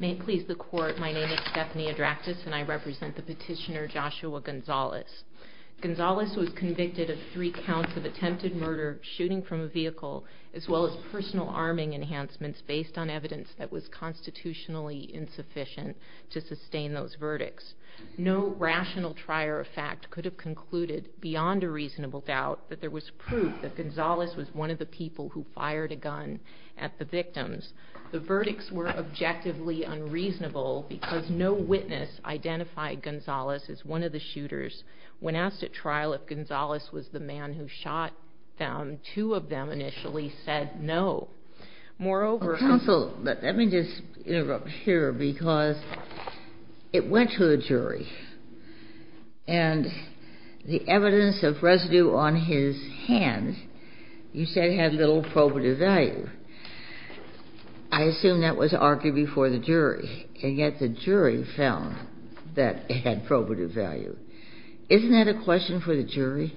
May it please the Court, my name is Stephanie Adractis and I represent the petitioner Joshua Gonzales. Gonzales was convicted of three counts of attempted murder, shooting from a vehicle, as well as personal arming enhancements based on evidence that was constitutionally insufficient to sustain those verdicts. No rational trier of fact could have concluded, beyond a reasonable doubt, that there was proof that Gonzales was one of the people who fired a gun at the victims. The verdicts were objectively unreasonable because no witness identified Gonzales as one of the shooters. When asked at trial if Gonzales was the man who shot them, two of them initially said no. Moreover- Counsel, let me just interrupt here because it went to a jury and the evidence of residue on his hand you said had little probative value. I assume that was argued before the jury and yet the jury found that it had probative value. Isn't that a question for the jury?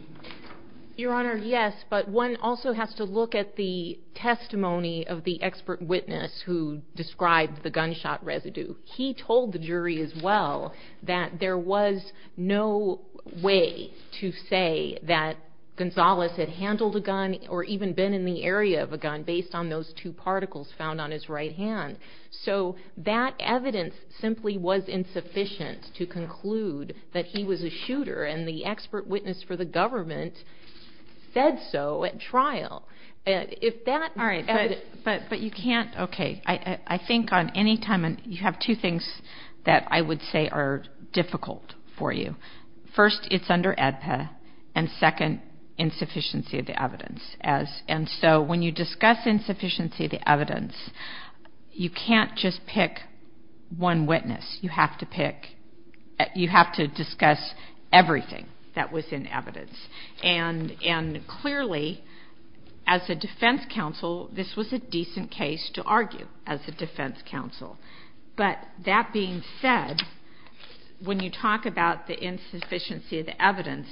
Your Honor, yes, but one also has to look at the testimony of the expert witness who described the gunshot residue. He told the jury as well that there was no way to say that Gonzales had handled a gun or even been in the area of a gun based on those two particles found on his right hand. So that evidence simply was insufficient to conclude that he was a shooter and the expert witness for the government said so at trial. But you can't, okay, I think on any time, you have two things that I would say are difficult for you. First, it's under ADPA and second, insufficiency of the evidence. And so when you discuss insufficiency of the evidence, you can't just pick one witness. You have to pick, you have to discuss everything that was in evidence. And clearly, as a defense counsel, this was a decent case to argue as a defense counsel. But that being said, when you talk about the insufficiency of the evidence,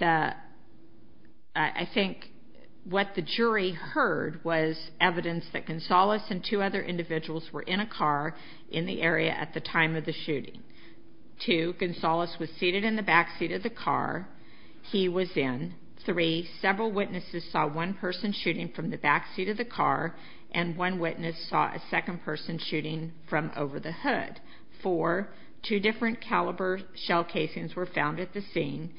I think what the jury heard was evidence that Gonzales and two other individuals were in a car in the area at the time of the shooting. Two, Gonzales was seated in the back seat of the car. He was in. Three, several witnesses saw one person shooting from the back seat of the car and one witness saw a second person shooting from over the hood. Four, two different caliber shell casings were found at the scene.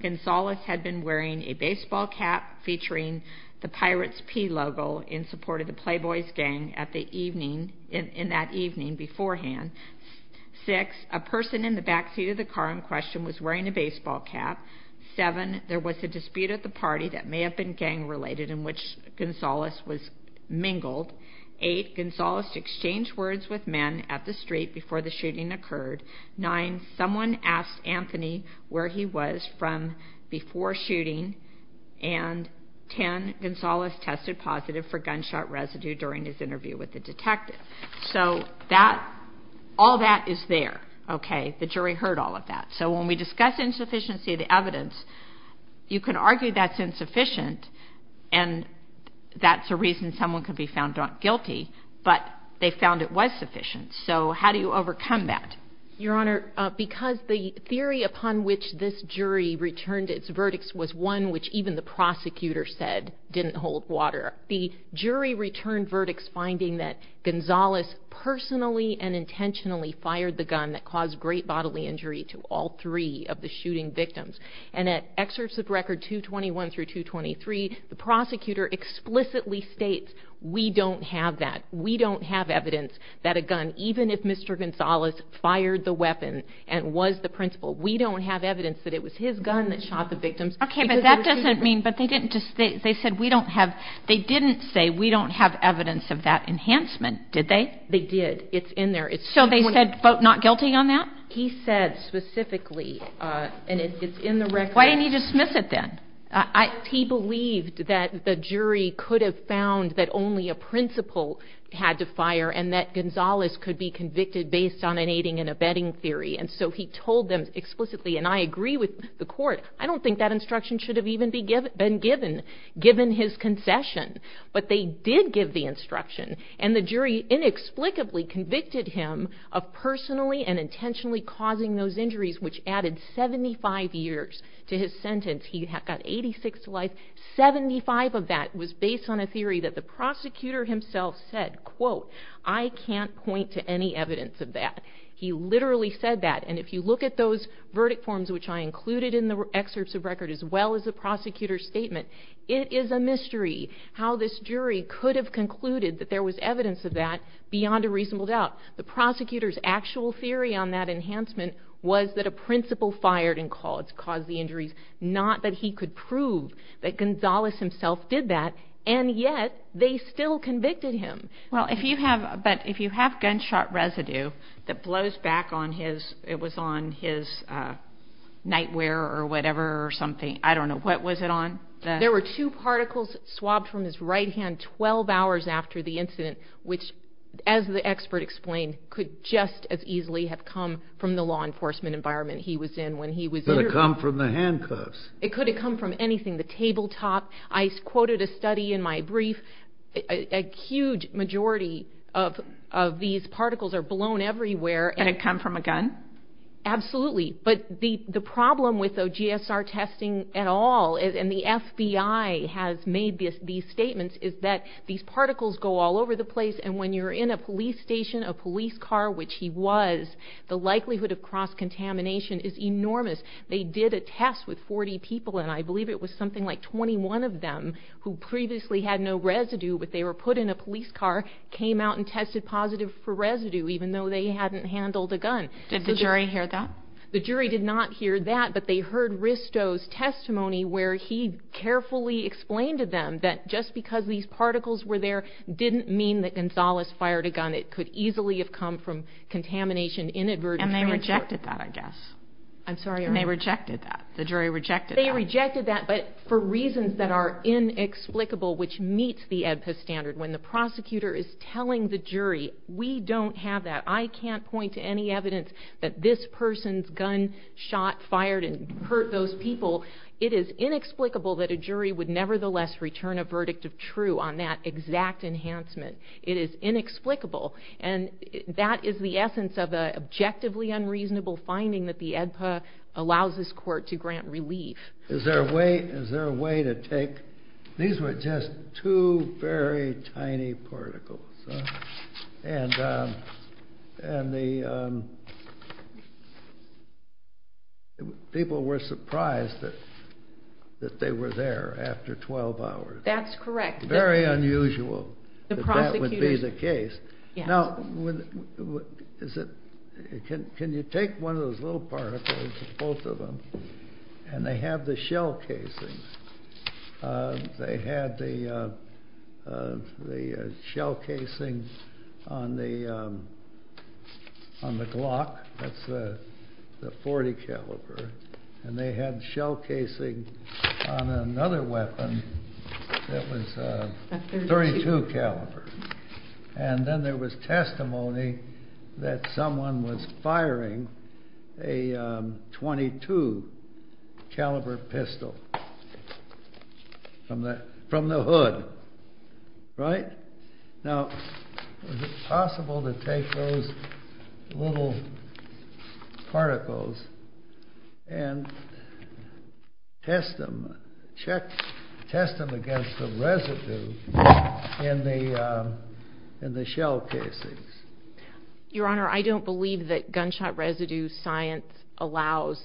Gonzales had been wearing a baseball cap featuring the Pirates P logo in support of the Playboys gang at the evening, in that evening beforehand. Six, a person in the back seat of the car in question was wearing a baseball cap. Seven, there was a dispute at the party that may have been gang related in which Gonzales was mingled. Eight, Gonzales exchanged words with men at the street before the shooting occurred. Nine, someone asked Anthony where he was from before shooting. And ten, Gonzales tested positive for gunshot residue during his interview with the detective. So that, all that is there. Okay, the jury heard all of that. So when we discuss insufficiency of the evidence, you can argue that's insufficient. And that's a reason someone could be found guilty, but they found it was sufficient. So how do you overcome that? Your Honor, because the theory upon which this jury returned its verdicts was one which even the prosecutor said didn't hold water, the jury returned verdicts that Gonzales personally and intentionally fired the gun that caused great bodily injury to all three of the shooting victims. And at excerpts of record 221 through 223, the prosecutor explicitly states, we don't have that. We don't have evidence that a gun, even if Mr. Gonzales fired the weapon and was the principal, we don't have evidence that it was his gun that shot the victims. Okay, but that doesn't mean, but they didn't just, they said we don't have, they didn't say we don't have evidence of that enhancement, did they? They did. It's in there. So they said, vote not guilty on that? He said specifically, and it's in the record. Why didn't he dismiss it then? He believed that the jury could have found that only a principal had to fire, and that Gonzales could be convicted based on an aiding and abetting theory. And so he told them explicitly, and I agree with the court, I don't think that instruction should have even been given. Given his concession, but they did give the instruction, and the jury inexplicably convicted him of personally and intentionally causing those injuries, which added 75 years to his sentence. He got 86 to life, 75 of that was based on a theory that the prosecutor himself said, quote, I can't point to any evidence of that. He literally said that, and if you look at those verdict forms, which I included in the excerpts of record, as well as the prosecutor's statement, it is a mystery how this jury could have concluded that there was evidence of that beyond a reasonable doubt. The prosecutor's actual theory on that enhancement was that a principal fired and caused the injuries, not that he could prove that Gonzales himself did that. And yet, they still convicted him. Well, if you have, but if you have gunshot residue that blows back on his, it was on his nightwear or whatever or something, I don't know, what was it on? There were two particles swabbed from his right hand 12 hours after the incident, which, as the expert explained, could just as easily have come from the law enforcement environment he was in when he was- Could have come from the handcuffs. It could have come from anything, the tabletop. I quoted a study in my brief. A huge majority of these particles are blown everywhere. And it come from a gun? Absolutely. But the problem with the GSR testing at all, and the FBI has made these statements, is that these particles go all over the place, and when you're in a police station, a police car, which he was, the likelihood of cross-contamination is enormous. They did a test with 40 people, and I believe it was something like 21 of them who previously had no residue, but they were put in a police car, came out and tested positive for residue, even though they hadn't handled a gun. Did the jury hear that? The jury did not hear that, but they heard Risto's testimony, where he carefully explained to them that just because these particles were there didn't mean that Gonzalez fired a gun. It could easily have come from contamination inadvertently. And they rejected that, I guess. I'm sorry, your Honor. They rejected that. The jury rejected that. They rejected that, but for reasons that are inexplicable, which meets the EDPA standard, when the prosecutor is telling the jury, we don't have that, I can't point to any evidence that this person's gun shot, fired, and hurt those people, it is inexplicable that a jury would nevertheless return a verdict of true on that exact enhancement. It is inexplicable. And that is the essence of an objectively unreasonable finding that the EDPA allows this court to grant relief. Is there a way to take... These were just two very tiny particles. And the people were surprised that they were there after 12 hours. That's correct. Very unusual that that would be the case. Now, can you take one of those little particles, both of them, and they have the shell casing. They had the shell casing on the Glock, that's the .40 caliber. And they had shell casing on another weapon that was a .32 caliber. And then there was testimony that someone was firing a .22 caliber pistol from the hood, right? Now, is it possible to take those little particles and test them against the residue in the shell casings? Your Honor, I don't believe that gunshot residue science allows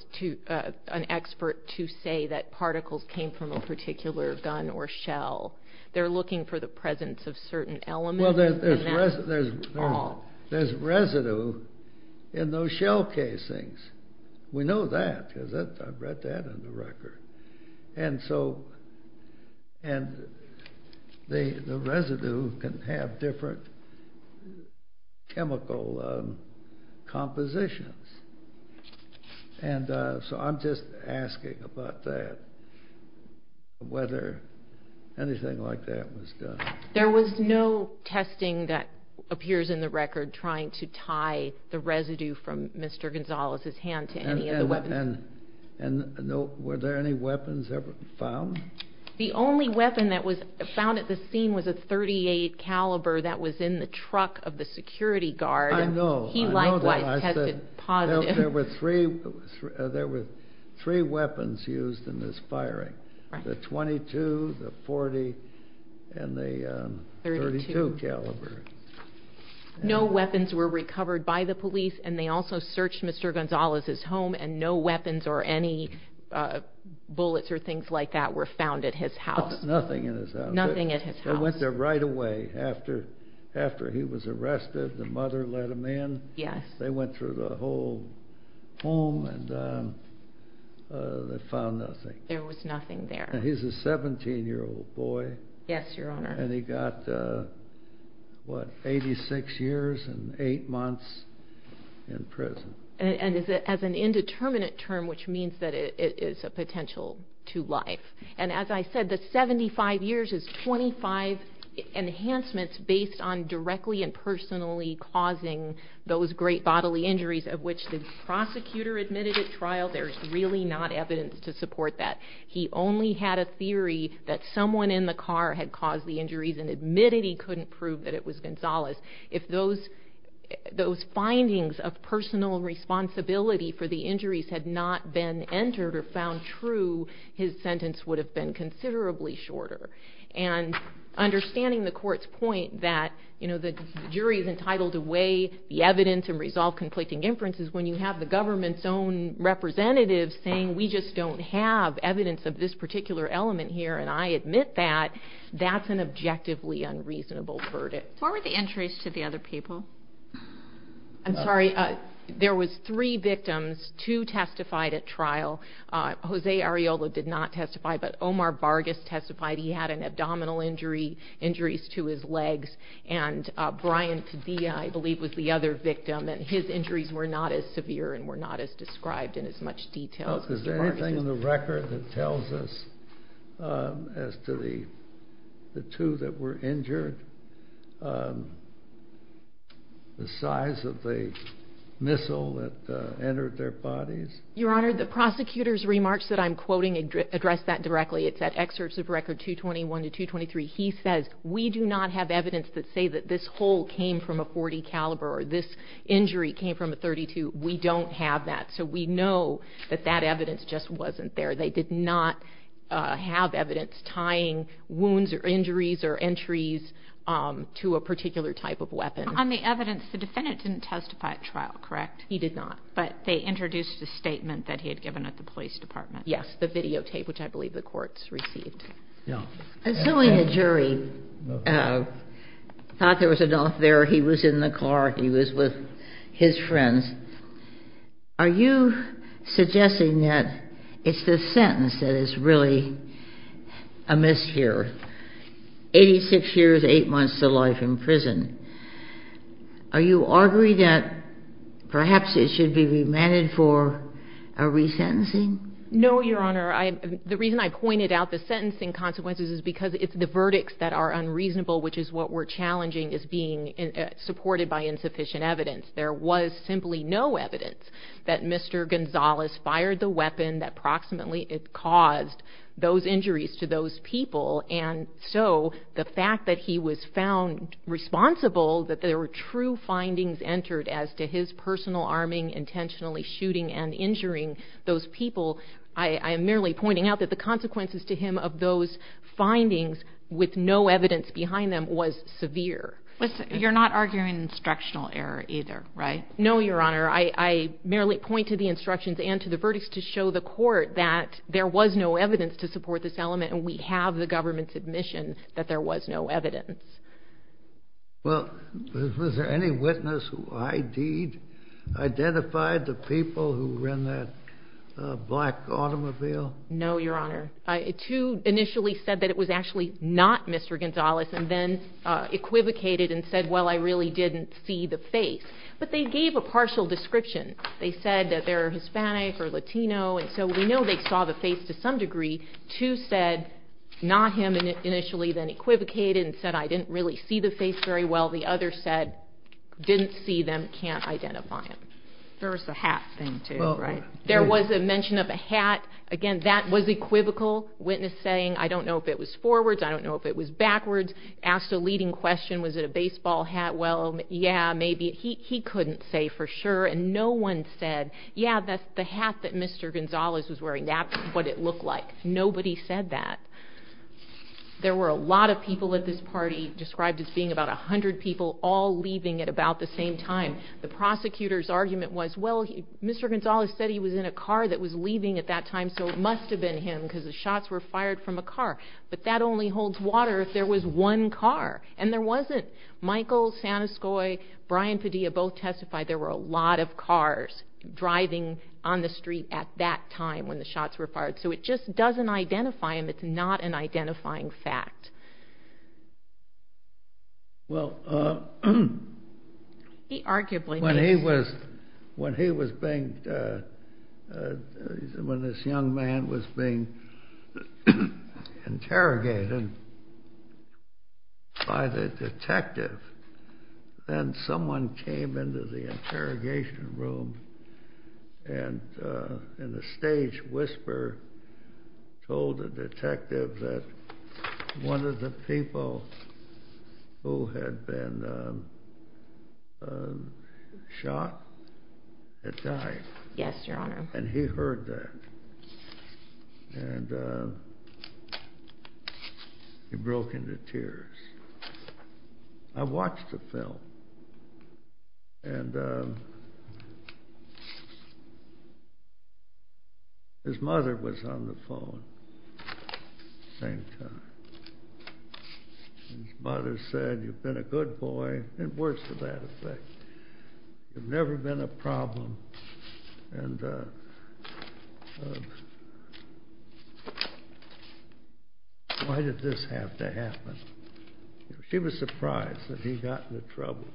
an expert to say that particles came from a particular gun or shell. They're looking for the presence of certain elements in that ball. Well, there's residue in those shell casings. We know that, because I've read that in the record. And so the residue can have different chemical compositions. And so I'm just asking about that, whether anything like that was done. There was no testing that appears in the record trying to tie the residue from Mr. Gonzalez's hand to any of the weapons. And were there any weapons ever found? The only weapon that was found at the scene was a .38 caliber that was in the truck of the security guard. I know. He likewise tested positive. There were three weapons used in this firing, the .22, the .40, and the .32 caliber. No weapons were recovered by the police. And they also searched Mr. Gonzalez's home. And no weapons or any bullets or things like that were found at his house. Nothing in his house. Nothing at his house. They went there right away after he was arrested. The mother let him in. They went through the whole home, and they found nothing. There was nothing there. He's a 17-year-old boy. Yes, Your Honor. And he got, what, 86 years and eight months in prison. And as an indeterminate term, which means that it is a potential to life. And as I said, the 75 years is 25 enhancements based on directly and personally causing those great bodily injuries of which the prosecutor admitted at trial. There's really not evidence to support that. He only had a theory that someone in the car had caused the injuries and admitted he couldn't prove that it was Gonzalez. If those findings of personal responsibility for the injuries had not been entered or found true, his sentence would have been considerably shorter. And understanding the court's point that the jury is entitled to weigh the evidence and resolve conflicting inferences when you have the government's own representatives saying, we just don't have evidence of this particular element here, and I admit that, that's an objectively unreasonable verdict. What were the injuries to the other people? I'm sorry. There was three victims. Two testified at trial. Jose Arreola did not testify, but Omar Vargas testified. He had an abdominal injury, injuries to his legs. And Brian Padilla, I believe, was the other victim. And his injuries were not as severe and were not as described in as much detail. Is there anything in the record that tells us as to the two that were injured, the size of the missile that entered their bodies? Your Honor, the prosecutor's remarks that I'm quoting address that directly. It's at excerpts of record 221 to 223. He says, we do not have evidence that say that this hole came from a .40 caliber or this injury came from a .32. We don't have that. So we know that that evidence just wasn't there. They did not have evidence tying wounds or injuries or entries to a particular type of weapon. On the evidence, the defendant didn't testify at trial, correct? He did not. But they introduced a statement that he had given at the police department. Yes, the videotape, which I believe the courts received. Assuming a jury thought there was enough there, he was in the car, he was with his friends, are you suggesting that it's the sentence that is really amiss here? 86 years, eight months to life in prison. Are you arguing that perhaps it should be remanded for a resentencing? No, Your Honor. The reason I pointed out the sentencing consequences is because it's the verdicts that are unreasonable, which is what we're challenging as being supported by insufficient evidence. There was simply no evidence that Mr. Gonzalez fired the weapon that approximately caused those injuries to those people. And so the fact that he was found responsible, that there were true findings entered as to his personal arming, intentionally shooting and injuring those people, I am merely pointing out that the consequences to him of those findings with no evidence behind them was severe. You're not arguing instructional error either, right? No, Your Honor. I merely point to the instructions and to the verdicts to show the court that there was no evidence to support this element, and we have the government's admission that there was no evidence. Well, was there any witness who ID'd, identified the people who were in that black automobile? No, Your Honor. Two initially said that it was actually not Mr. Gonzalez and then equivocated and said, well, I really didn't see the face. But they gave a partial description. They said that they're Hispanic or Latino, and so we know they saw the face to some degree. Two said, not him initially, then equivocated and said, I didn't really see the face very well. The other said, didn't see them, can't identify him. There was the hat thing too, right? There was a mention of a hat. Again, that was equivocal. Witness saying, I don't know if it was forwards, I don't know if it was backwards. Asked a leading question, was it a baseball hat? Well, yeah, maybe. He couldn't say for sure, and no one said, yeah, that's the hat that Mr. Gonzalez was wearing. That's what it looked like. Nobody said that. There were a lot of people at this party, described as being about 100 people, all leaving at about the same time. The prosecutor's argument was, well, Mr. Gonzalez said he was in a car that was leaving at that time, so it must have been him, because the shots were fired from a car. But that only holds water if there was one car, and there wasn't. Michael Saniscoy, Brian Padilla both testified there were a lot of cars driving on the street at that time when the shots were fired. So it just doesn't identify him. It's not an identifying fact. Well, when he was being, when this young man was being interrogated by the detective, then someone came into the interrogation room and in a stage whisper told the detective that one of the people who had been shot had died. Yes, Your Honor. And he heard that, and he broke into tears. I watched the film, and his mother was on the phone. At the same time, his mother said, you've been a good boy. It works to that effect. You've never been a problem. And why did this have to happen? She was surprised that he got into trouble.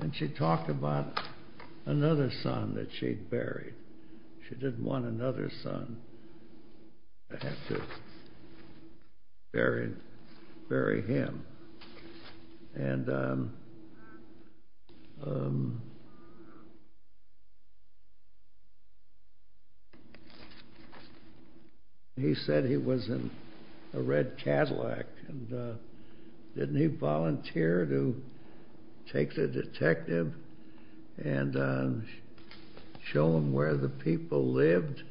And she talked about another son that she'd buried. She didn't want another son to have to bury him. And he said he was in a red Cadillac. And didn't he volunteer to take the detective and show him where the person lived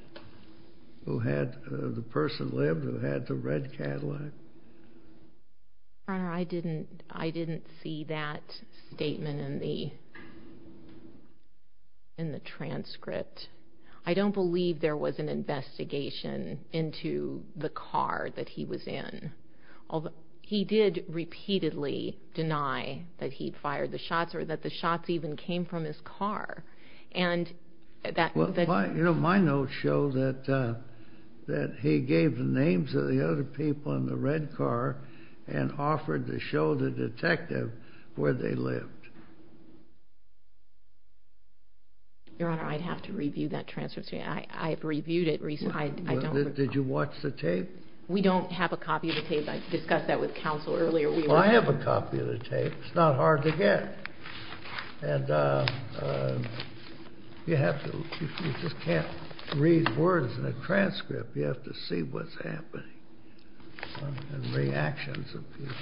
who had the red Cadillac? Your Honor, I didn't see that statement in the transcript. I don't believe there was an investigation into the car that he was in. He did repeatedly deny that he'd fired the shots or that the shots even came from his car. And that, you know, my notes show that he gave the names of the other people in the red car and offered to show the detective where they lived. Your Honor, I'd have to review that transcript. I've reviewed it recently. Did you watch the tape? We don't have a copy of the tape. I discussed that with counsel earlier. Well, I have a copy of the tape. It's not hard to get. And you just can't read words in a transcript. You have to see what's happening and reactions of people.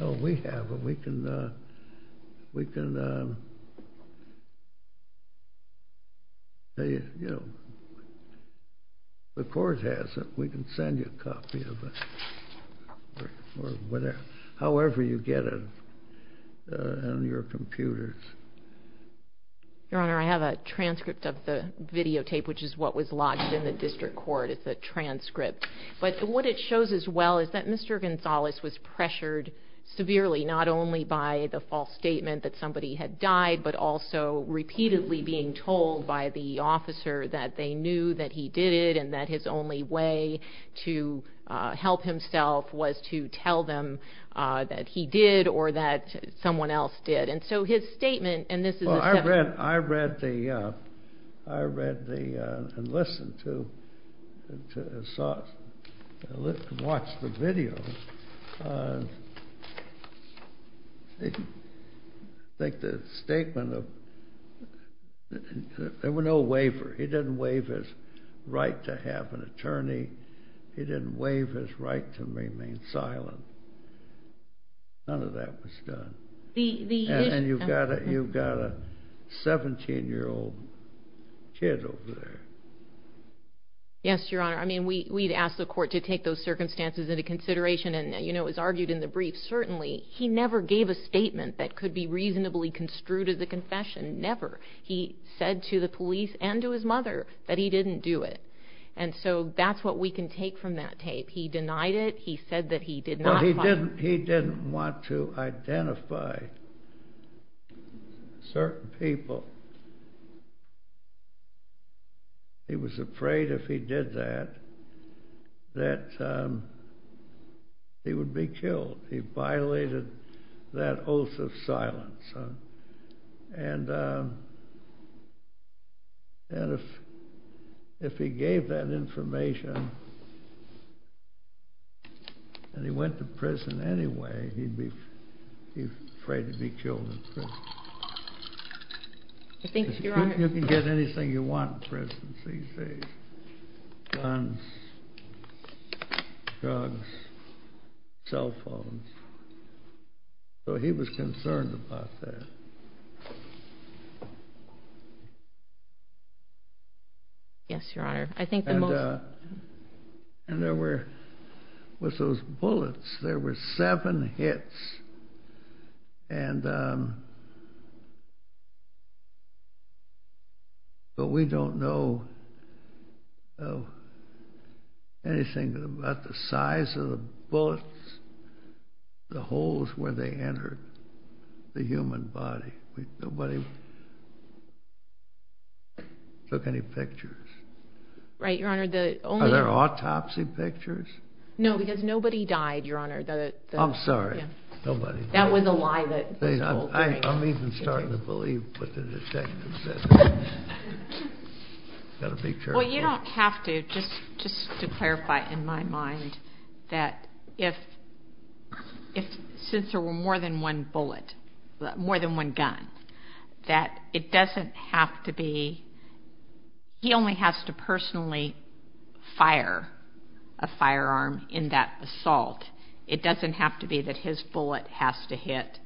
Oh, we have a we can, you know, the court has it. We can send you a copy of it or whatever, however you get it on your computers. Your Honor, I have a transcript of the videotape, which is what was lodged in the district court. It's a transcript. But what it shows as well is that Mr. Gonzales was pressured severely, not only by the false statement that somebody had died, but also repeatedly being told by the officer that they knew that he did it and that his only way to help himself was to tell them that he did or that someone else did. And so his statement, and this is a seventh. I read the, and listened to, and watched the video. I think the statement of, there were no waiver. He didn't waive his right to have an attorney. He didn't waive his right to remain silent. None of that was done. And you've got a 17-year-old kid over there. Yes, Your Honor. I mean, we'd ask the court to take those circumstances into consideration. And you know, it was argued in the brief. Certainly, he never gave a statement that could be reasonably construed as a confession. Never. He said to the police and to his mother that he didn't do it. And so that's what we can take from that tape. He denied it. He said that he did not file. He didn't want to identify certain people. He was afraid if he did that, that he would be killed. He violated that oath of silence. And if he gave that information, and he went to prison anyway, he'd be afraid to be killed in prison. I think, Your Honor. You can get anything you want in prison, CC. Guns, drugs, cell phones. So he was concerned about that. Yes, Your Honor. I think the most. And there were, with those bullets, there were seven hits. And but we don't know anything about the size of the bullets, the holes where they entered the human body. Nobody took any pictures. Right, Your Honor. Are there autopsy pictures? No, because nobody died, Your Honor. I'm sorry. That was a lie that was told, right? I'm even starting to believe what the detective said. Got a picture? Well, you don't have to. Just to clarify in my mind that if, since there were more than one bullet, more than one gun, that it doesn't have to be, he only has to personally fire a firearm in that assault. It doesn't have to be that his bullet has to hit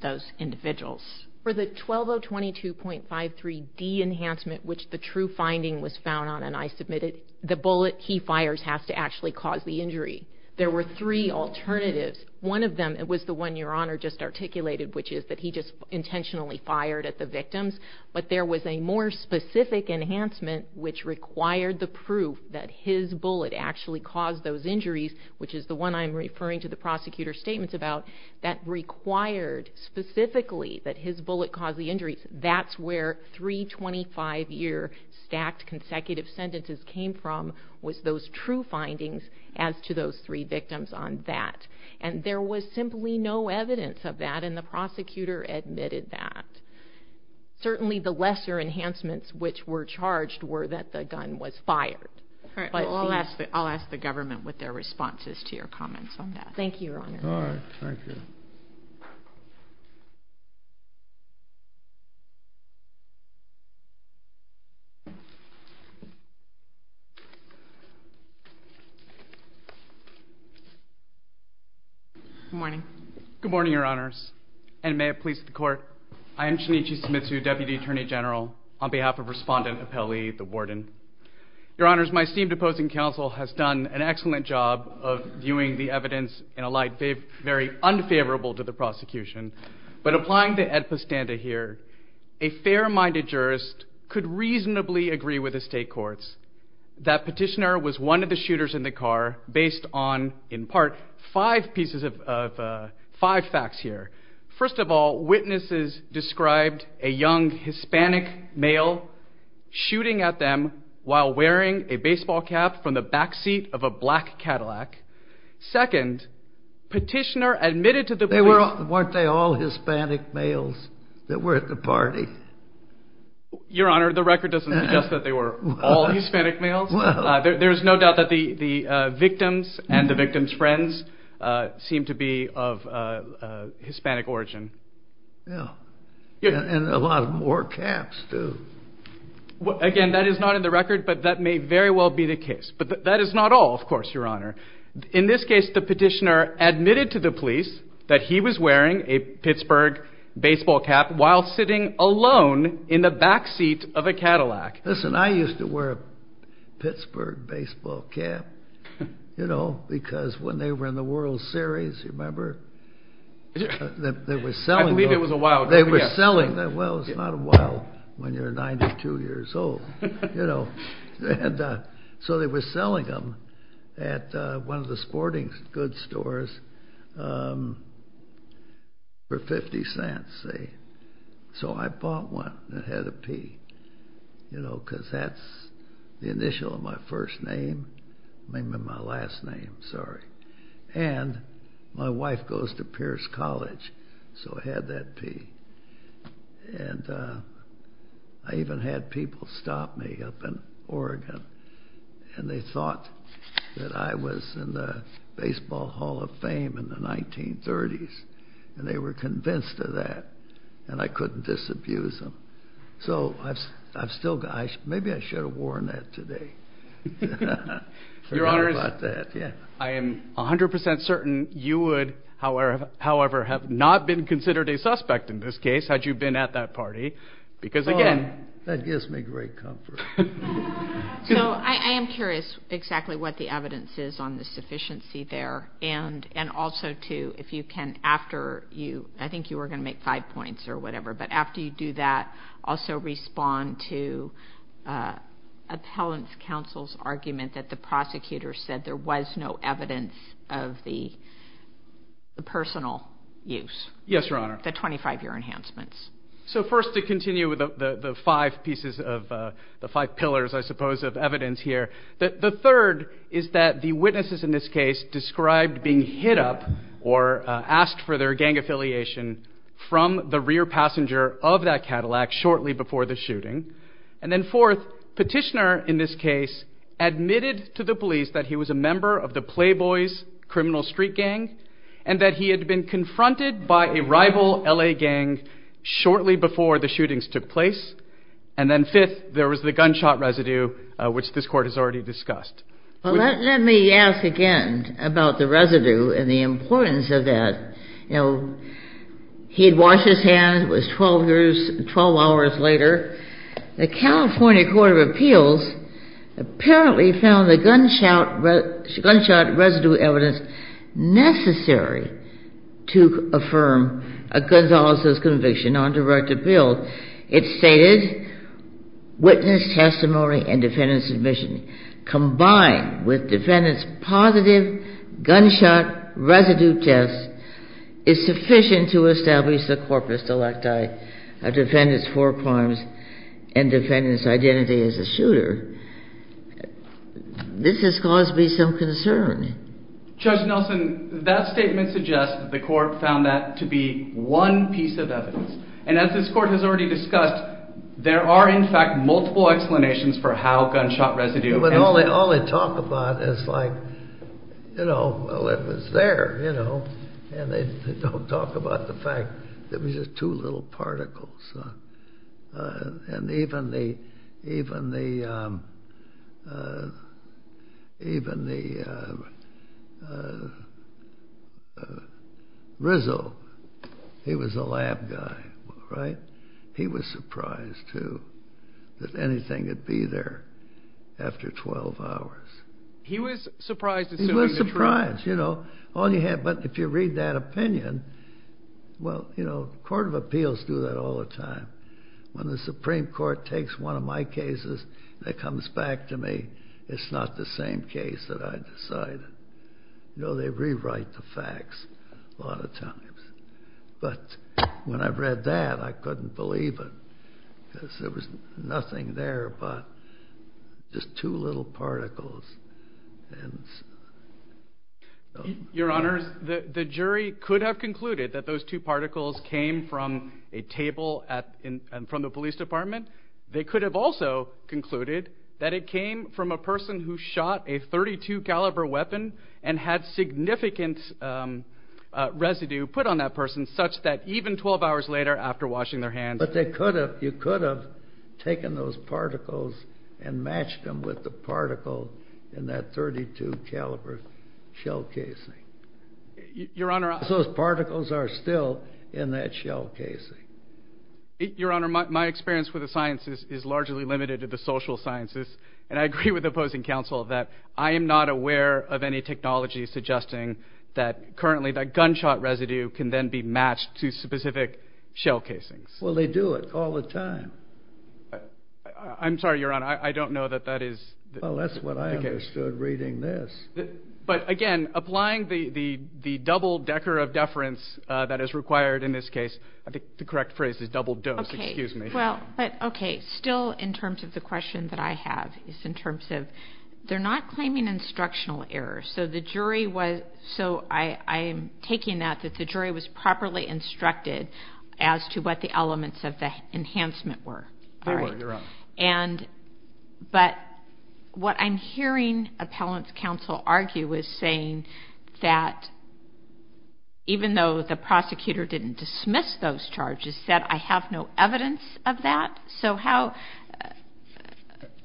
those individuals. For the 12022.53D enhancement, which the true finding was found on and I submitted, the bullet he fires has to actually cause the injury. There were three alternatives. One of them, it was the one Your Honor just articulated, which is that he just intentionally fired at the victims. But there was a more specific enhancement which required the proof that his bullet actually caused those injuries, which is the one I'm referring to the prosecutor's statements about, that required specifically that his bullet cause the injuries. That's where three 25 year stacked consecutive sentences came from was those true findings as to those three victims on that. And there was simply no evidence of that and the prosecutor admitted that. Certainly the lesser enhancements which were charged were that the gun was fired. All right, I'll ask the government with their responses to your comments on that. Thank you, Your Honor. All right. Thank you. Good morning. Good morning, Your Honors. And may it please the court. I am Shinichi Sumitsu, Deputy Attorney General, on behalf of Respondent Apelli, the warden. Your Honors, my esteemed opposing counsel has done an excellent job of viewing the evidence in a light very unfavorable to the prosecution. But applying the Ed Postanda here, a fair-minded jurist could reasonably agree with the state courts that Petitioner was one of the shooters in the car based on, in part, five pieces of, five facts here. First of all, witnesses described a young Hispanic male shooting at them while wearing a baseball cap from the backseat of a black Cadillac. Second, Petitioner admitted to the police- They were, weren't they all Hispanic males that were at the party? Your Honor, the record doesn't suggest that they were all Hispanic males. Well. There's no doubt that the victims and the victim's friends seem to be of Hispanic origin. Yeah. And a lot more caps, too. Again, that is not in the record, but that may very well be the case. But that is not all, of course, Your Honor. In this case, the Petitioner admitted to the police that he was wearing a Pittsburgh baseball cap while sitting alone in the backseat of a Cadillac. Listen, I used to wear a Pittsburgh baseball cap, you know, because when they were in the World Series, you remember? They were selling them. I believe it was a while ago. They were selling them. Well, it's not a while when you're 92 years old, you know. So they were selling them at one of the sporting goods stores for 50 cents, say. So I bought one and had to pee, you know, because that's the initial of my first name. I remember my last name, sorry. And my wife goes to Pierce College, so I had that pee. And I even had people stop me up in Oregon, and they thought that I was in the Baseball Hall of Fame in the 1930s, and they were convinced of that, and I couldn't disabuse them. So I've still got, maybe I should have worn that today. Your Honor, I am 100% certain you would, however, have not been considered a suspect in this case, had you been at that party, because again... That gives me great comfort. So I am curious exactly what the evidence is on the sufficiency there, and also, too, if you can, after you, I think you were going to make five points or whatever, but after you do that, also respond to Appellant's counsel's argument that the prosecutor said there was no evidence of the personal use. Yes, Your Honor. The 25-year enhancements. So first, to continue with the five pieces of, the five pillars, I suppose, of evidence here. The third is that the witnesses in this case described being hit up or asked for their gang affiliation from the rear passenger of that Cadillac shortly before the shooting. And then fourth, Petitioner in this case admitted to the police that he was a member of the Playboys criminal street gang, and that he had been confronted by a rival L.A. gang shortly before the shootings took place. And then fifth, there was the gunshot residue, which this Court has already discussed. Well, let me ask again about the residue and the importance of that. He'd washed his hands, it was 12 hours later, the California Court of Appeals apparently found the gunshot residue evidence necessary to affirm Gonzalez's conviction on direct appeal. It stated, witness testimony and defendant's admission combined with defendant's positive gunshot residue test is sufficient to establish the corpus delicti of defendant's four crimes. And defendant's identity as a shooter, this has caused me some concern. Judge Nelson, that statement suggests that the Court found that to be one piece of evidence. And as this Court has already discussed, there are in fact multiple explanations for how gunshot residue... But all they talk about is like, you know, well, it was there, you know. And they don't talk about the fact that it was just two little particles. And even Rizzo, he was a lab guy, right? He was surprised too that anything could be there after 12 hours. He was surprised. He was surprised, you know. But if you read that opinion, well, you know, Court of Appeals do that all the time. When the Supreme Court takes one of my cases and it comes back to me, it's not the same case that I decided. You know, they rewrite the facts a lot of times. But when I read that, I couldn't believe it. Because there was nothing there but just two little particles. Your Honors, the jury could have concluded that those two particles came from a table from the police department. They could have also concluded that it came from a person who shot a .32 caliber weapon and had significant residue put on that person, such that even 12 hours later after washing their hands... But they could have, you could have taken those particles and matched them with the particle in that .32 caliber shell casing. Your Honor... Those particles are still in that shell casing. Your Honor, my experience with the sciences is largely limited to the social sciences. And I agree with opposing counsel that I am not aware of any technology suggesting that currently that gunshot residue can then be matched to specific shell casings. Well, they do it all the time. I'm sorry, Your Honor, I don't know that that is... Well, that's what I understood reading this. But again, applying the double decker of deference that is required in this case, I think the correct phrase is double dose, excuse me. Well, but okay, still in terms of the question that I have is in terms of they're not claiming instructional errors. So the jury was... So I'm taking that that the jury was properly instructed as to what the elements of the enhancement were. They were, Your Honor. And... But what I'm hearing appellant's counsel argue is saying that even though the prosecutor didn't dismiss those charges, that I have no evidence of that. So how...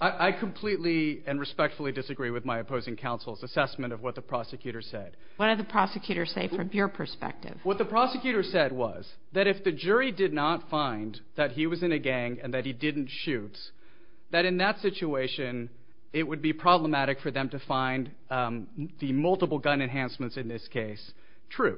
I completely and respectfully disagree with my opposing counsel's assessment of what the prosecutor said. What did the prosecutor say from your perspective? What the prosecutor said was that if the jury did not find that he was in a gang and that he didn't shoot, that in that situation, it would be problematic for them to find the multiple gun enhancements in this case true.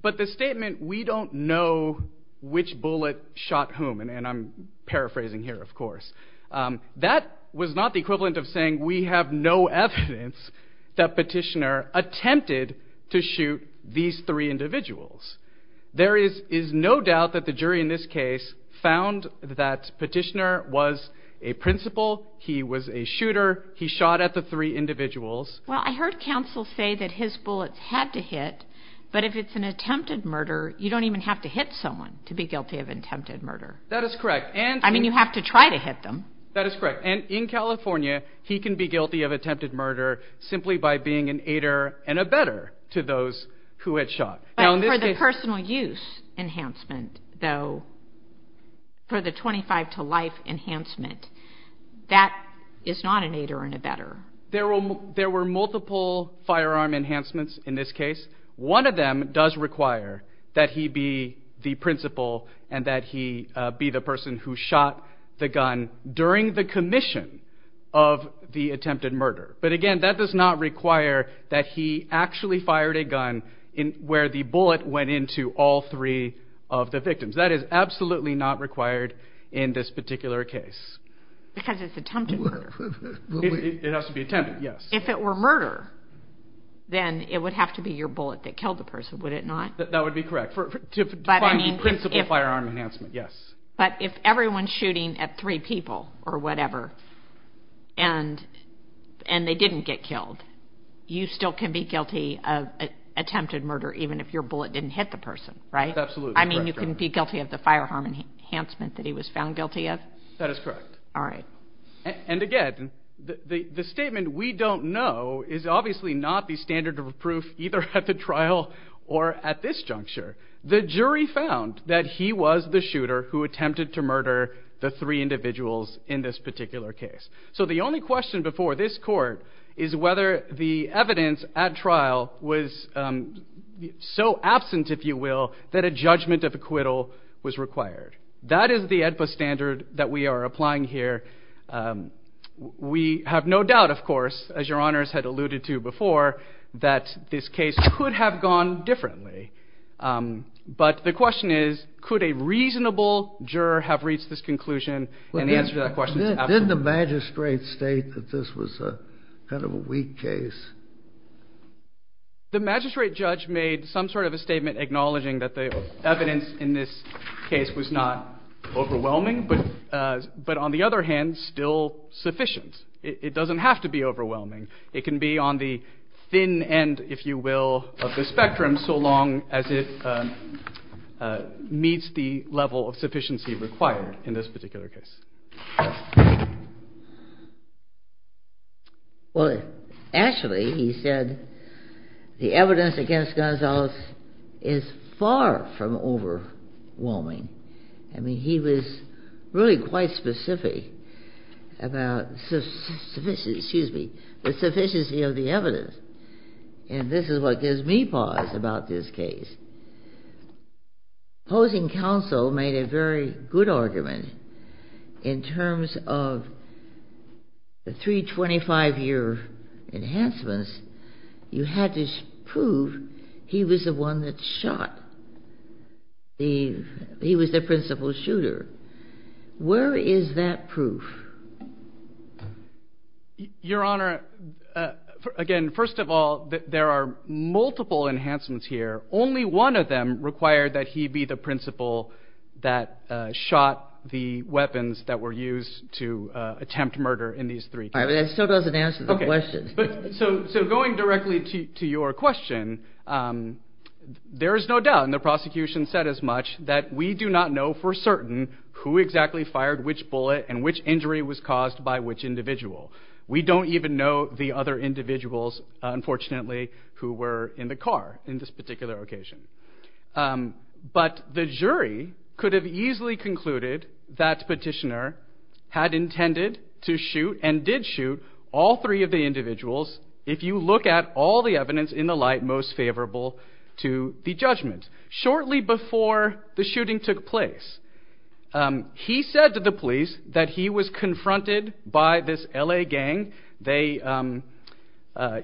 But the statement, we don't know which bullet shot whom, and I'm paraphrasing here, of course, that was not the equivalent of saying we have no evidence that petitioner attempted to shoot these three individuals. There is no doubt that the jury in this case found that petitioner was a principal. He was a shooter. He shot at the three individuals. Well, I heard counsel say that his bullets had to hit. But if it's an attempted murder, you don't even have to hit someone to be guilty of attempted murder. That is correct. And... I mean, you have to try to hit them. That is correct. And in California, he can be guilty of attempted murder simply by being an aider and a better to those who had shot. But for the personal use enhancement, though, for the 25 to life enhancement, that is not an aider and a better. There were multiple firearm enhancements in this case. One of them does require that he be the principal and that he be the person who shot the gun during the commission of the attempted murder. Where the bullet went into all three of the victims. That is absolutely not required in this particular case. Because it's attempted murder. It has to be attempted, yes. If it were murder, then it would have to be your bullet that killed the person, would it not? That would be correct. To find the principal firearm enhancement, yes. But if everyone's shooting at three people or whatever and they didn't get killed, you still can be guilty of attempted murder even if your bullet didn't hit the person, right? That's absolutely correct. I mean, you can be guilty of the firearm enhancement that he was found guilty of? That is correct. All right. And again, the statement we don't know is obviously not the standard of proof either at the trial or at this juncture. The jury found that he was the shooter who attempted to murder the three individuals in this particular case. So the only question before this court is whether the evidence at trial was so absent, if you will, that a judgment of acquittal was required. That is the AEDPA standard that we are applying here. We have no doubt, of course, as Your Honors had alluded to before, that this case could have gone differently. But the question is, could a reasonable juror have reached this conclusion and answer that question? Didn't the magistrate state that this was kind of a weak case? The magistrate judge made some sort of a statement acknowledging that the evidence in this case was not overwhelming, but on the other hand, still sufficient. It doesn't have to be overwhelming. It can be on the thin end, if you will, of the spectrum so long as it meets the level of sufficiency required in this particular case. Well, actually, he said the evidence against Gonzales is far from overwhelming. I mean, he was really quite specific about the sufficiency of the evidence. And this is what gives me pause about this case. Opposing counsel made a very good argument in terms of the three 25-year enhancements. You had to prove he was the one that shot. He was the principal shooter. Where is that proof? Your Honor, again, first of all, there are multiple enhancements here. Only one of them required that he be the principal that shot the weapons that were used to attempt murder in these three cases. That still doesn't answer the question. So going directly to your question, there is no doubt, and the prosecution said as much, that we do not know for certain who exactly fired which bullet and which injury was caused by which individual. We don't even know the other individuals, unfortunately, who were in the car in this particular occasion. But the jury could have easily concluded that Petitioner had intended to shoot and did shoot all three of the individuals if you look at all the evidence in the light most favorable to the judgment. Shortly before the shooting took place, he said to the police that he was confronted by this L.A. gang. They,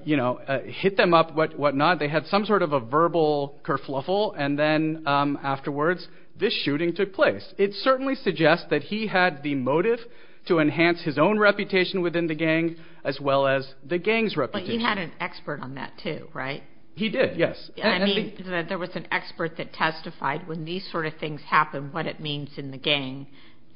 you know, hit them up, whatnot. They had some sort of a verbal kerfuffle. And then afterwards, this shooting took place. It certainly suggests that he had the motive to enhance his own reputation within the gang as well as the gang's reputation. But he had an expert on that, too, right? He did, yes. I mean, there was an expert that testified when these sort of things happen, what it means in the gang,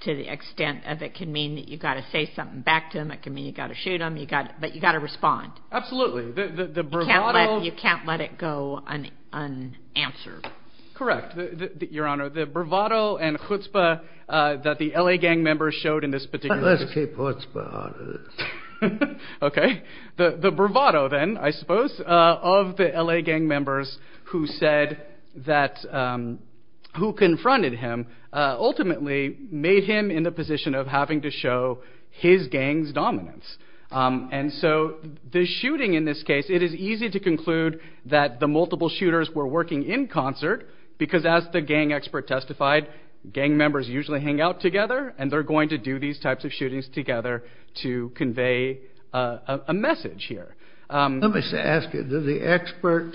to the extent of it can mean that you've got to say something back to them, it can mean you've got to shoot them, but you've got to respond. Absolutely. The bravado... You can't let it go unanswered. Correct, Your Honor. The bravado and chutzpah that the L.A. gang members showed in this particular... But let's keep chutzpah out of this. Okay. The bravado then, I suppose, of the L.A. gang members who said that... who confronted him ultimately made him in the position of having to show his gang's dominance. And so the shooting in this case, it is easy to conclude that the multiple shooters were working in concert, because as the gang expert testified, gang members usually hang out together and they're going to do these types of shootings together to convey a message here. Let me ask you, did the expert,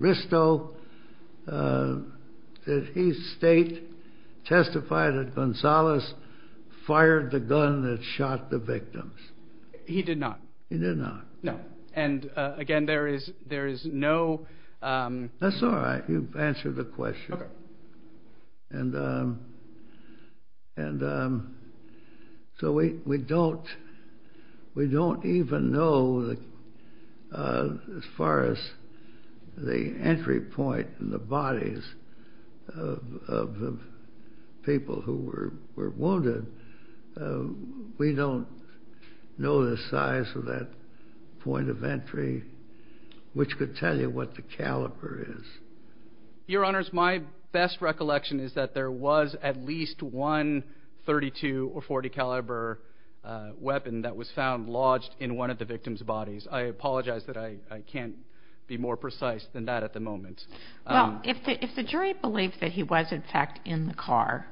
Risto, did he state, testify that Gonzalez fired the gun that shot the victims? He did not. He did not. No. And again, there is no... That's all right. You've answered the question. Okay. And so we don't even know as far as the entry point in the bodies of the people who were wounded. We don't know the size of that point of entry, which could tell you what the caliber is. Your Honors, my best recollection is that there was at least one 32 or 40 caliber weapon that was found lodged in one of the victims' bodies. I apologize that I can't be more precise than that at the moment. Well, if the jury believed that he was in fact in the car,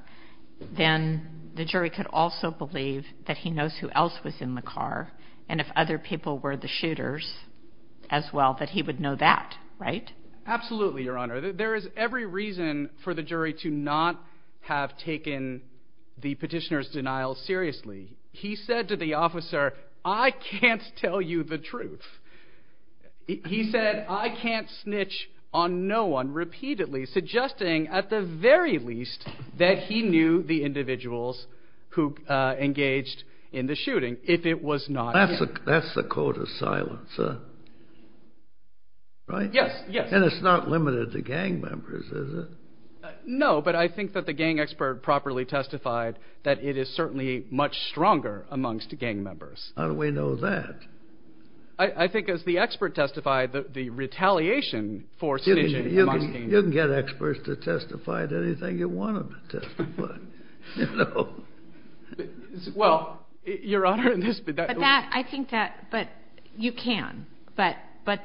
then the jury could also believe that he knows who else was in the car. And if other people were the shooters as well, that he would know that, right? Absolutely, Your Honor. There is every reason for the jury to not have taken the petitioner's denial seriously. He said to the officer, I can't tell you the truth. He said, I can't snitch on no one, repeatedly suggesting at the very least that he knew the individuals who engaged in the shooting if it was not him. That's the code of silence, sir. Right? Yes, yes. And it's not limited to gang members, is it? No, but I think that the gang expert properly testified that it is certainly much stronger amongst gang members. How do we know that? I think as the expert testified, the retaliation for snitching amongst gang members. You can get experts to testify to anything you want them to testify, you know? Well, Your Honor, in this bid... But that, I think that, but you can. But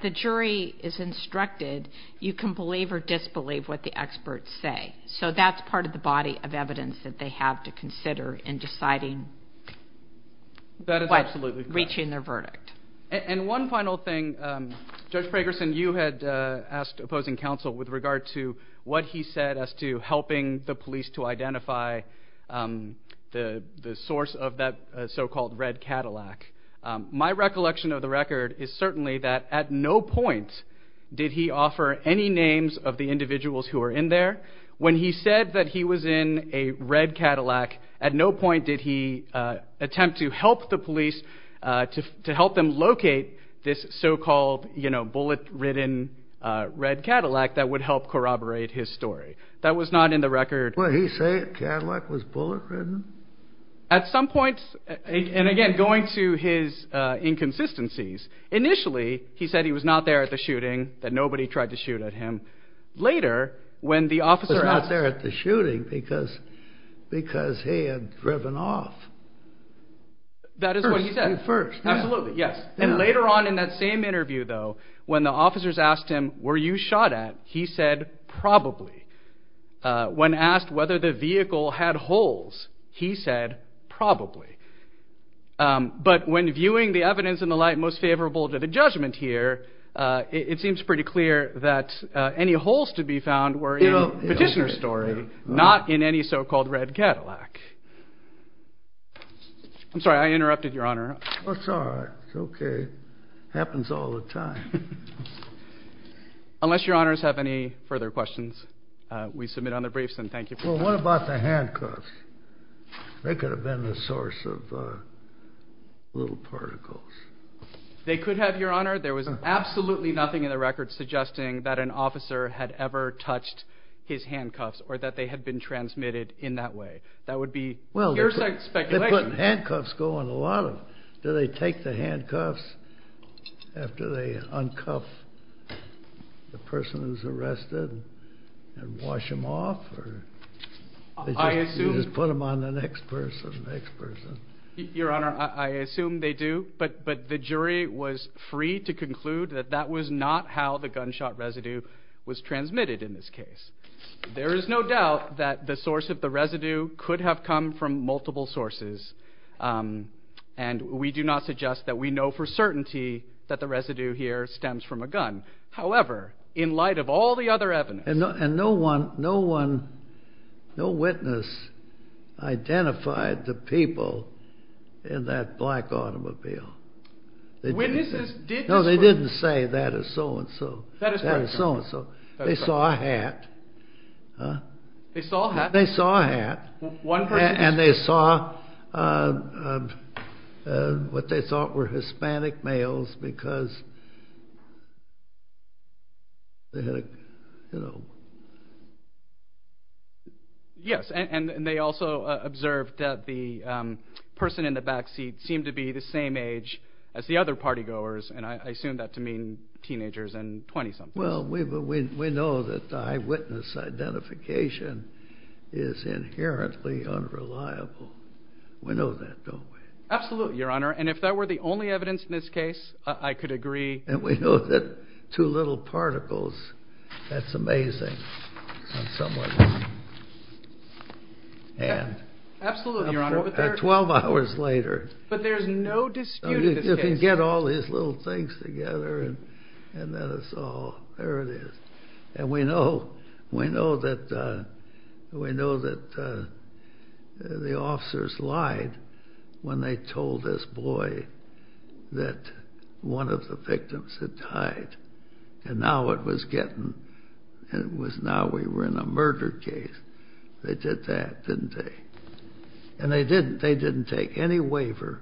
the jury is instructed, you can believe or disbelieve what the experts say. So that's part of the body of evidence that they have to consider in deciding... That is absolutely correct. ...reaching their verdict. And one final thing. Judge Fragerson, you had asked opposing counsel with regard to what he said as to helping the police to identify the source of that so-called red Cadillac. My recollection of the record is certainly that at no point did he offer any names of the individuals who were in there. When he said that he was in a red Cadillac, at no point did he attempt to help the police, to help them locate this so-called, you know, bullet-ridden red Cadillac that would help corroborate his story. That was not in the record. What, he said a Cadillac was bullet-ridden? At some point, and again, going to his inconsistencies. Initially, he said he was not there at the shooting, that nobody tried to shoot at him. Later, when the officer... Was not there at the shooting because he had driven off. That is what he said. First. Absolutely, yes. And later on in that same interview, though, when the officers asked him, were you shot at? He said, probably. When asked whether the vehicle had holes, he said, probably. But when viewing the evidence and the like, most favorable to the judgment here, it seems pretty clear that any holes to be found were in Petitioner's story, not in any so-called red Cadillac. I'm sorry, I interrupted, Your Honor. That's all right. It's okay. Happens all the time. Unless Your Honors have any further questions, we submit on the briefs, and thank you for that. Well, what about the handcuffs? They could have been a source of little particles. They could have, Your Honor. There was absolutely nothing in the record suggesting that an officer had ever touched his handcuffs, or that they had been transmitted in that way. That would be your speculation. They put handcuffs, go on a lot of... Do they take the handcuffs after they uncuff the person who's arrested and wash them off? I assume... Just put them on the next person, next person. Your Honor, I assume they do, but the jury was free to conclude that that was not how the gunshot residue was transmitted in this case. There is no doubt that the source of the residue could have come from multiple sources, and we do not suggest that we know for certainty that the residue here stems from a gun. However, in light of all the other evidence... And no witness identified the people in that black automobile. Witnesses did describe... No, they didn't say that is so-and-so. That is so-and-so. They saw a hat. They saw a hat? They saw a hat. And they saw what they thought were Hispanic males because they had, you know... Yes, and they also observed that the person in the back seat seemed to be the same age as the other partygoers, and I assume that to mean teenagers and 20-somethings. Well, we know that the eyewitness identification is inherently unreliable. We know that, don't we? Absolutely, Your Honor, and if that were the only evidence in this case, I could agree. And we know that two little particles... That's amazing on someone's hand. Absolutely, Your Honor. Twelve hours later... But there's no dispute in this case. You can get all these little things together, and then it's all... There it is. And we know that the officers lied when they told this boy that one of the victims had died, and now it was getting... It was now we were in a murder case. They did that, didn't they? And they didn't take any waiver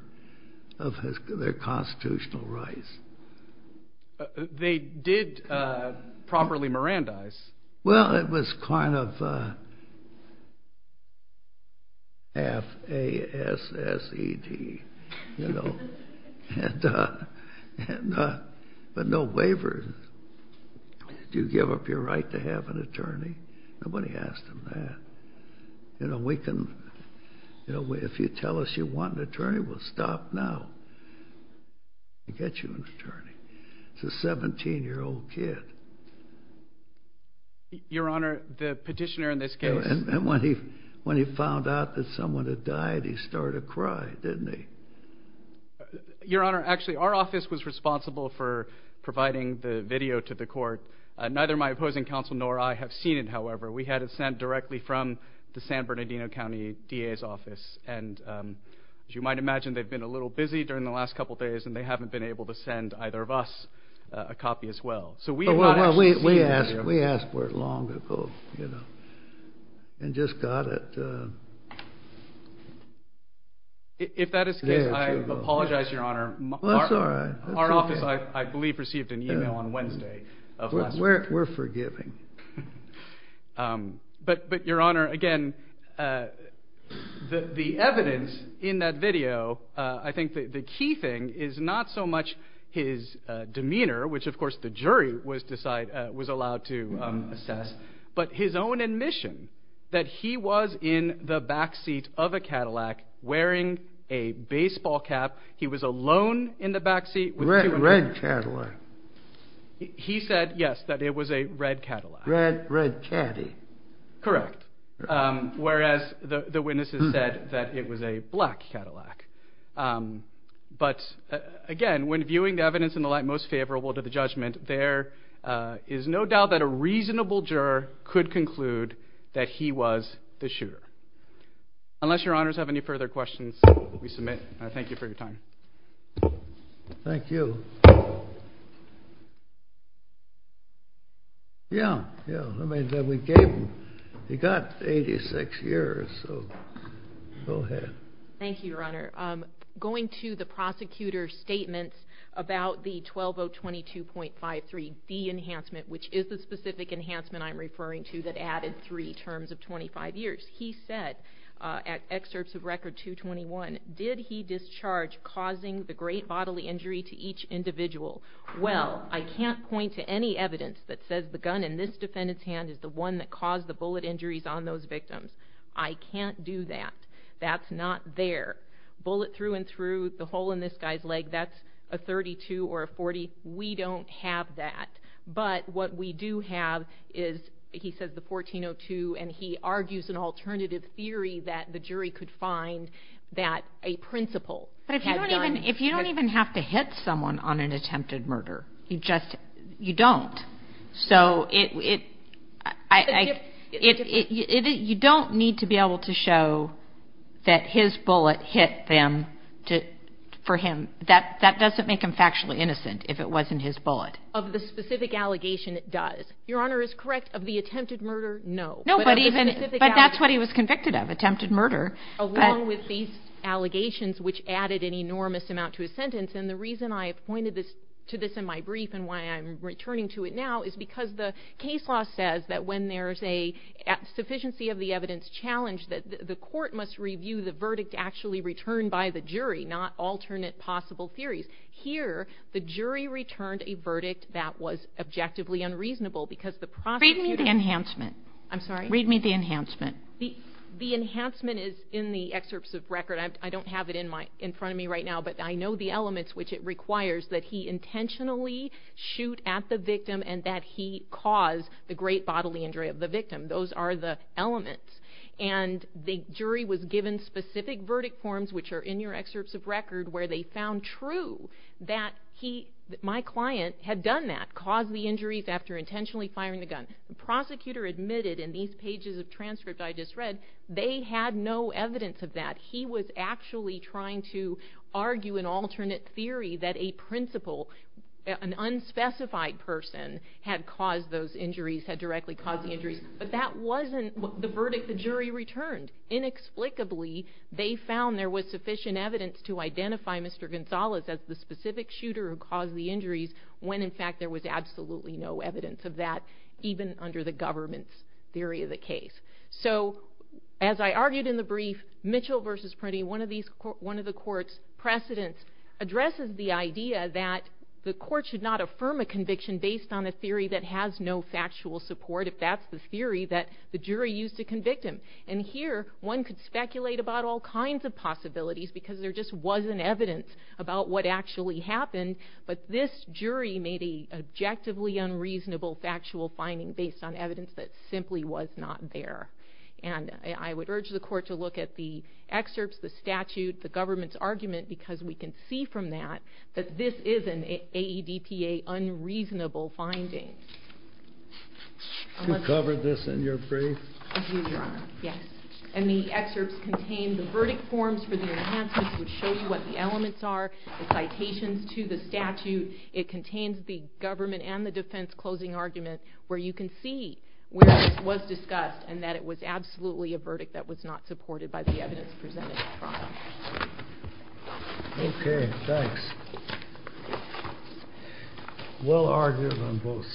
of their constitutional rights. They did properly Mirandize. Well, it was kind of F-A-S-S-E-D, you know, but no waiver. Do you give up your right to have an attorney? Nobody asked them that. You know, if you tell us you want an attorney, we'll stop now and get you an attorney. It's a 17-year-old kid. Your Honor, the petitioner in this case... And when he found out that someone had died, he started to cry, didn't he? Your Honor, actually, our office was responsible for providing the video to the court. Neither my opposing counsel nor I have seen it, however. We had it sent directly from the San Bernardino County DA's office. And as you might imagine, they've been a little busy during the last couple of days, and they haven't been able to send either of us a copy as well. Well, we asked for it long ago, you know, and just got it. If that is the case, I apologize, Your Honor. Our office, I believe, received an email on Wednesday. We're forgiving. But, Your Honor, again, the evidence in that video, I think the key thing is not so much his demeanor, which, of course, the jury was allowed to assess, but his own admission that he was in the backseat of a Cadillac wearing a baseball cap. He was alone in the backseat. A red Cadillac. He said, yes, that it was a red Cadillac. Red Caddy. Correct. Whereas the witnesses said that it was a black Cadillac. But, again, when viewing the evidence in the light most favorable to the judgment, there is no doubt that a reasonable juror could conclude that he was the shooter. Unless Your Honors have any further questions, we submit. Thank you for your time. Thank you. Yeah, yeah. I mean, we gave him, he got 86 years, so go ahead. Thank you, Your Honor. Going to the prosecutor's statements about the 12022.53, the enhancement, which is the specific enhancement I'm referring to that added three terms of 25 years. He said, at excerpts of Record 221, did he discharge causing the great bodily injury to each individual? Well, I can't point to any evidence that says the gun in this defendant's hand is the one that caused the bullet injuries on those victims. I can't do that. That's not there. Bullet through and through the hole in this guy's leg, that's a 32 or a 40. We don't have that. But what we do have is, he says the 1402, and he argues an alternative theory that the jury could find that a principal had done. If you don't even have to hit someone on an attempted murder, you just, you don't. So it, I, it, you don't need to be able to show that his bullet hit them to, for him. That, that doesn't make him factually innocent if it wasn't his bullet. Of the specific allegation, it does. Your Honor is correct. Of the attempted murder, no. No, but even, but that's what he was convicted of, attempted murder. Along with these allegations, which added an enormous amount to his sentence. And the reason I pointed this to this in my brief and why I'm returning to it now is because the case law says that when there's a sufficiency of the evidence challenge that the court must review the verdict actually returned by the jury, not alternate possible theories. Here, the jury returned a verdict that was objectively unreasonable because the prosecutor- Read me the enhancement. I'm sorry? Read me the enhancement. The, the enhancement is in the excerpts of record. I don't have it in my, in front of me right now, but I know the elements which it requires that he intentionally shoot at the victim and that he cause the great bodily injury of the victim. Those are the elements. And the jury was given specific verdict forms, which are in your excerpts of record, where they found true that he, my client had done that, caused the injuries after intentionally firing the gun. The prosecutor admitted in these pages of transcript I just read, they had no evidence of that. He was actually trying to argue an alternate theory that a principal, an unspecified person had caused those injuries, had directly caused the injuries. But that wasn't the verdict the jury returned. Inexplicably, they found there was sufficient evidence to identify Mr. Gonzalez as the specific shooter who caused the injuries when in fact, there was absolutely no evidence of that even under the government's theory of the case. So as I argued in the brief, Mitchell versus Prunty, one of these, one of the court's precedents addresses the idea that the court should not affirm a conviction based on a theory that has no factual support. If that's the theory that the jury used to convict him. And here, one could speculate about all kinds of possibilities because there just wasn't evidence about what actually happened. But this jury made a objectively unreasonable factual finding based on evidence that simply was not there. And I would urge the court to look at the excerpts, the statute, the government's argument, because we can see from that, that this is an AEDPA unreasonable finding. You covered this in your brief? And the excerpts contain the verdict forms for the enhancements, which show you what the elements are, the citations to the statute. It contains the government and the defense closing argument where you can see where this was discussed and that it was absolutely a verdict that was not supported by the evidence presented. Okay, thanks. Well argued on both sides. Thank you.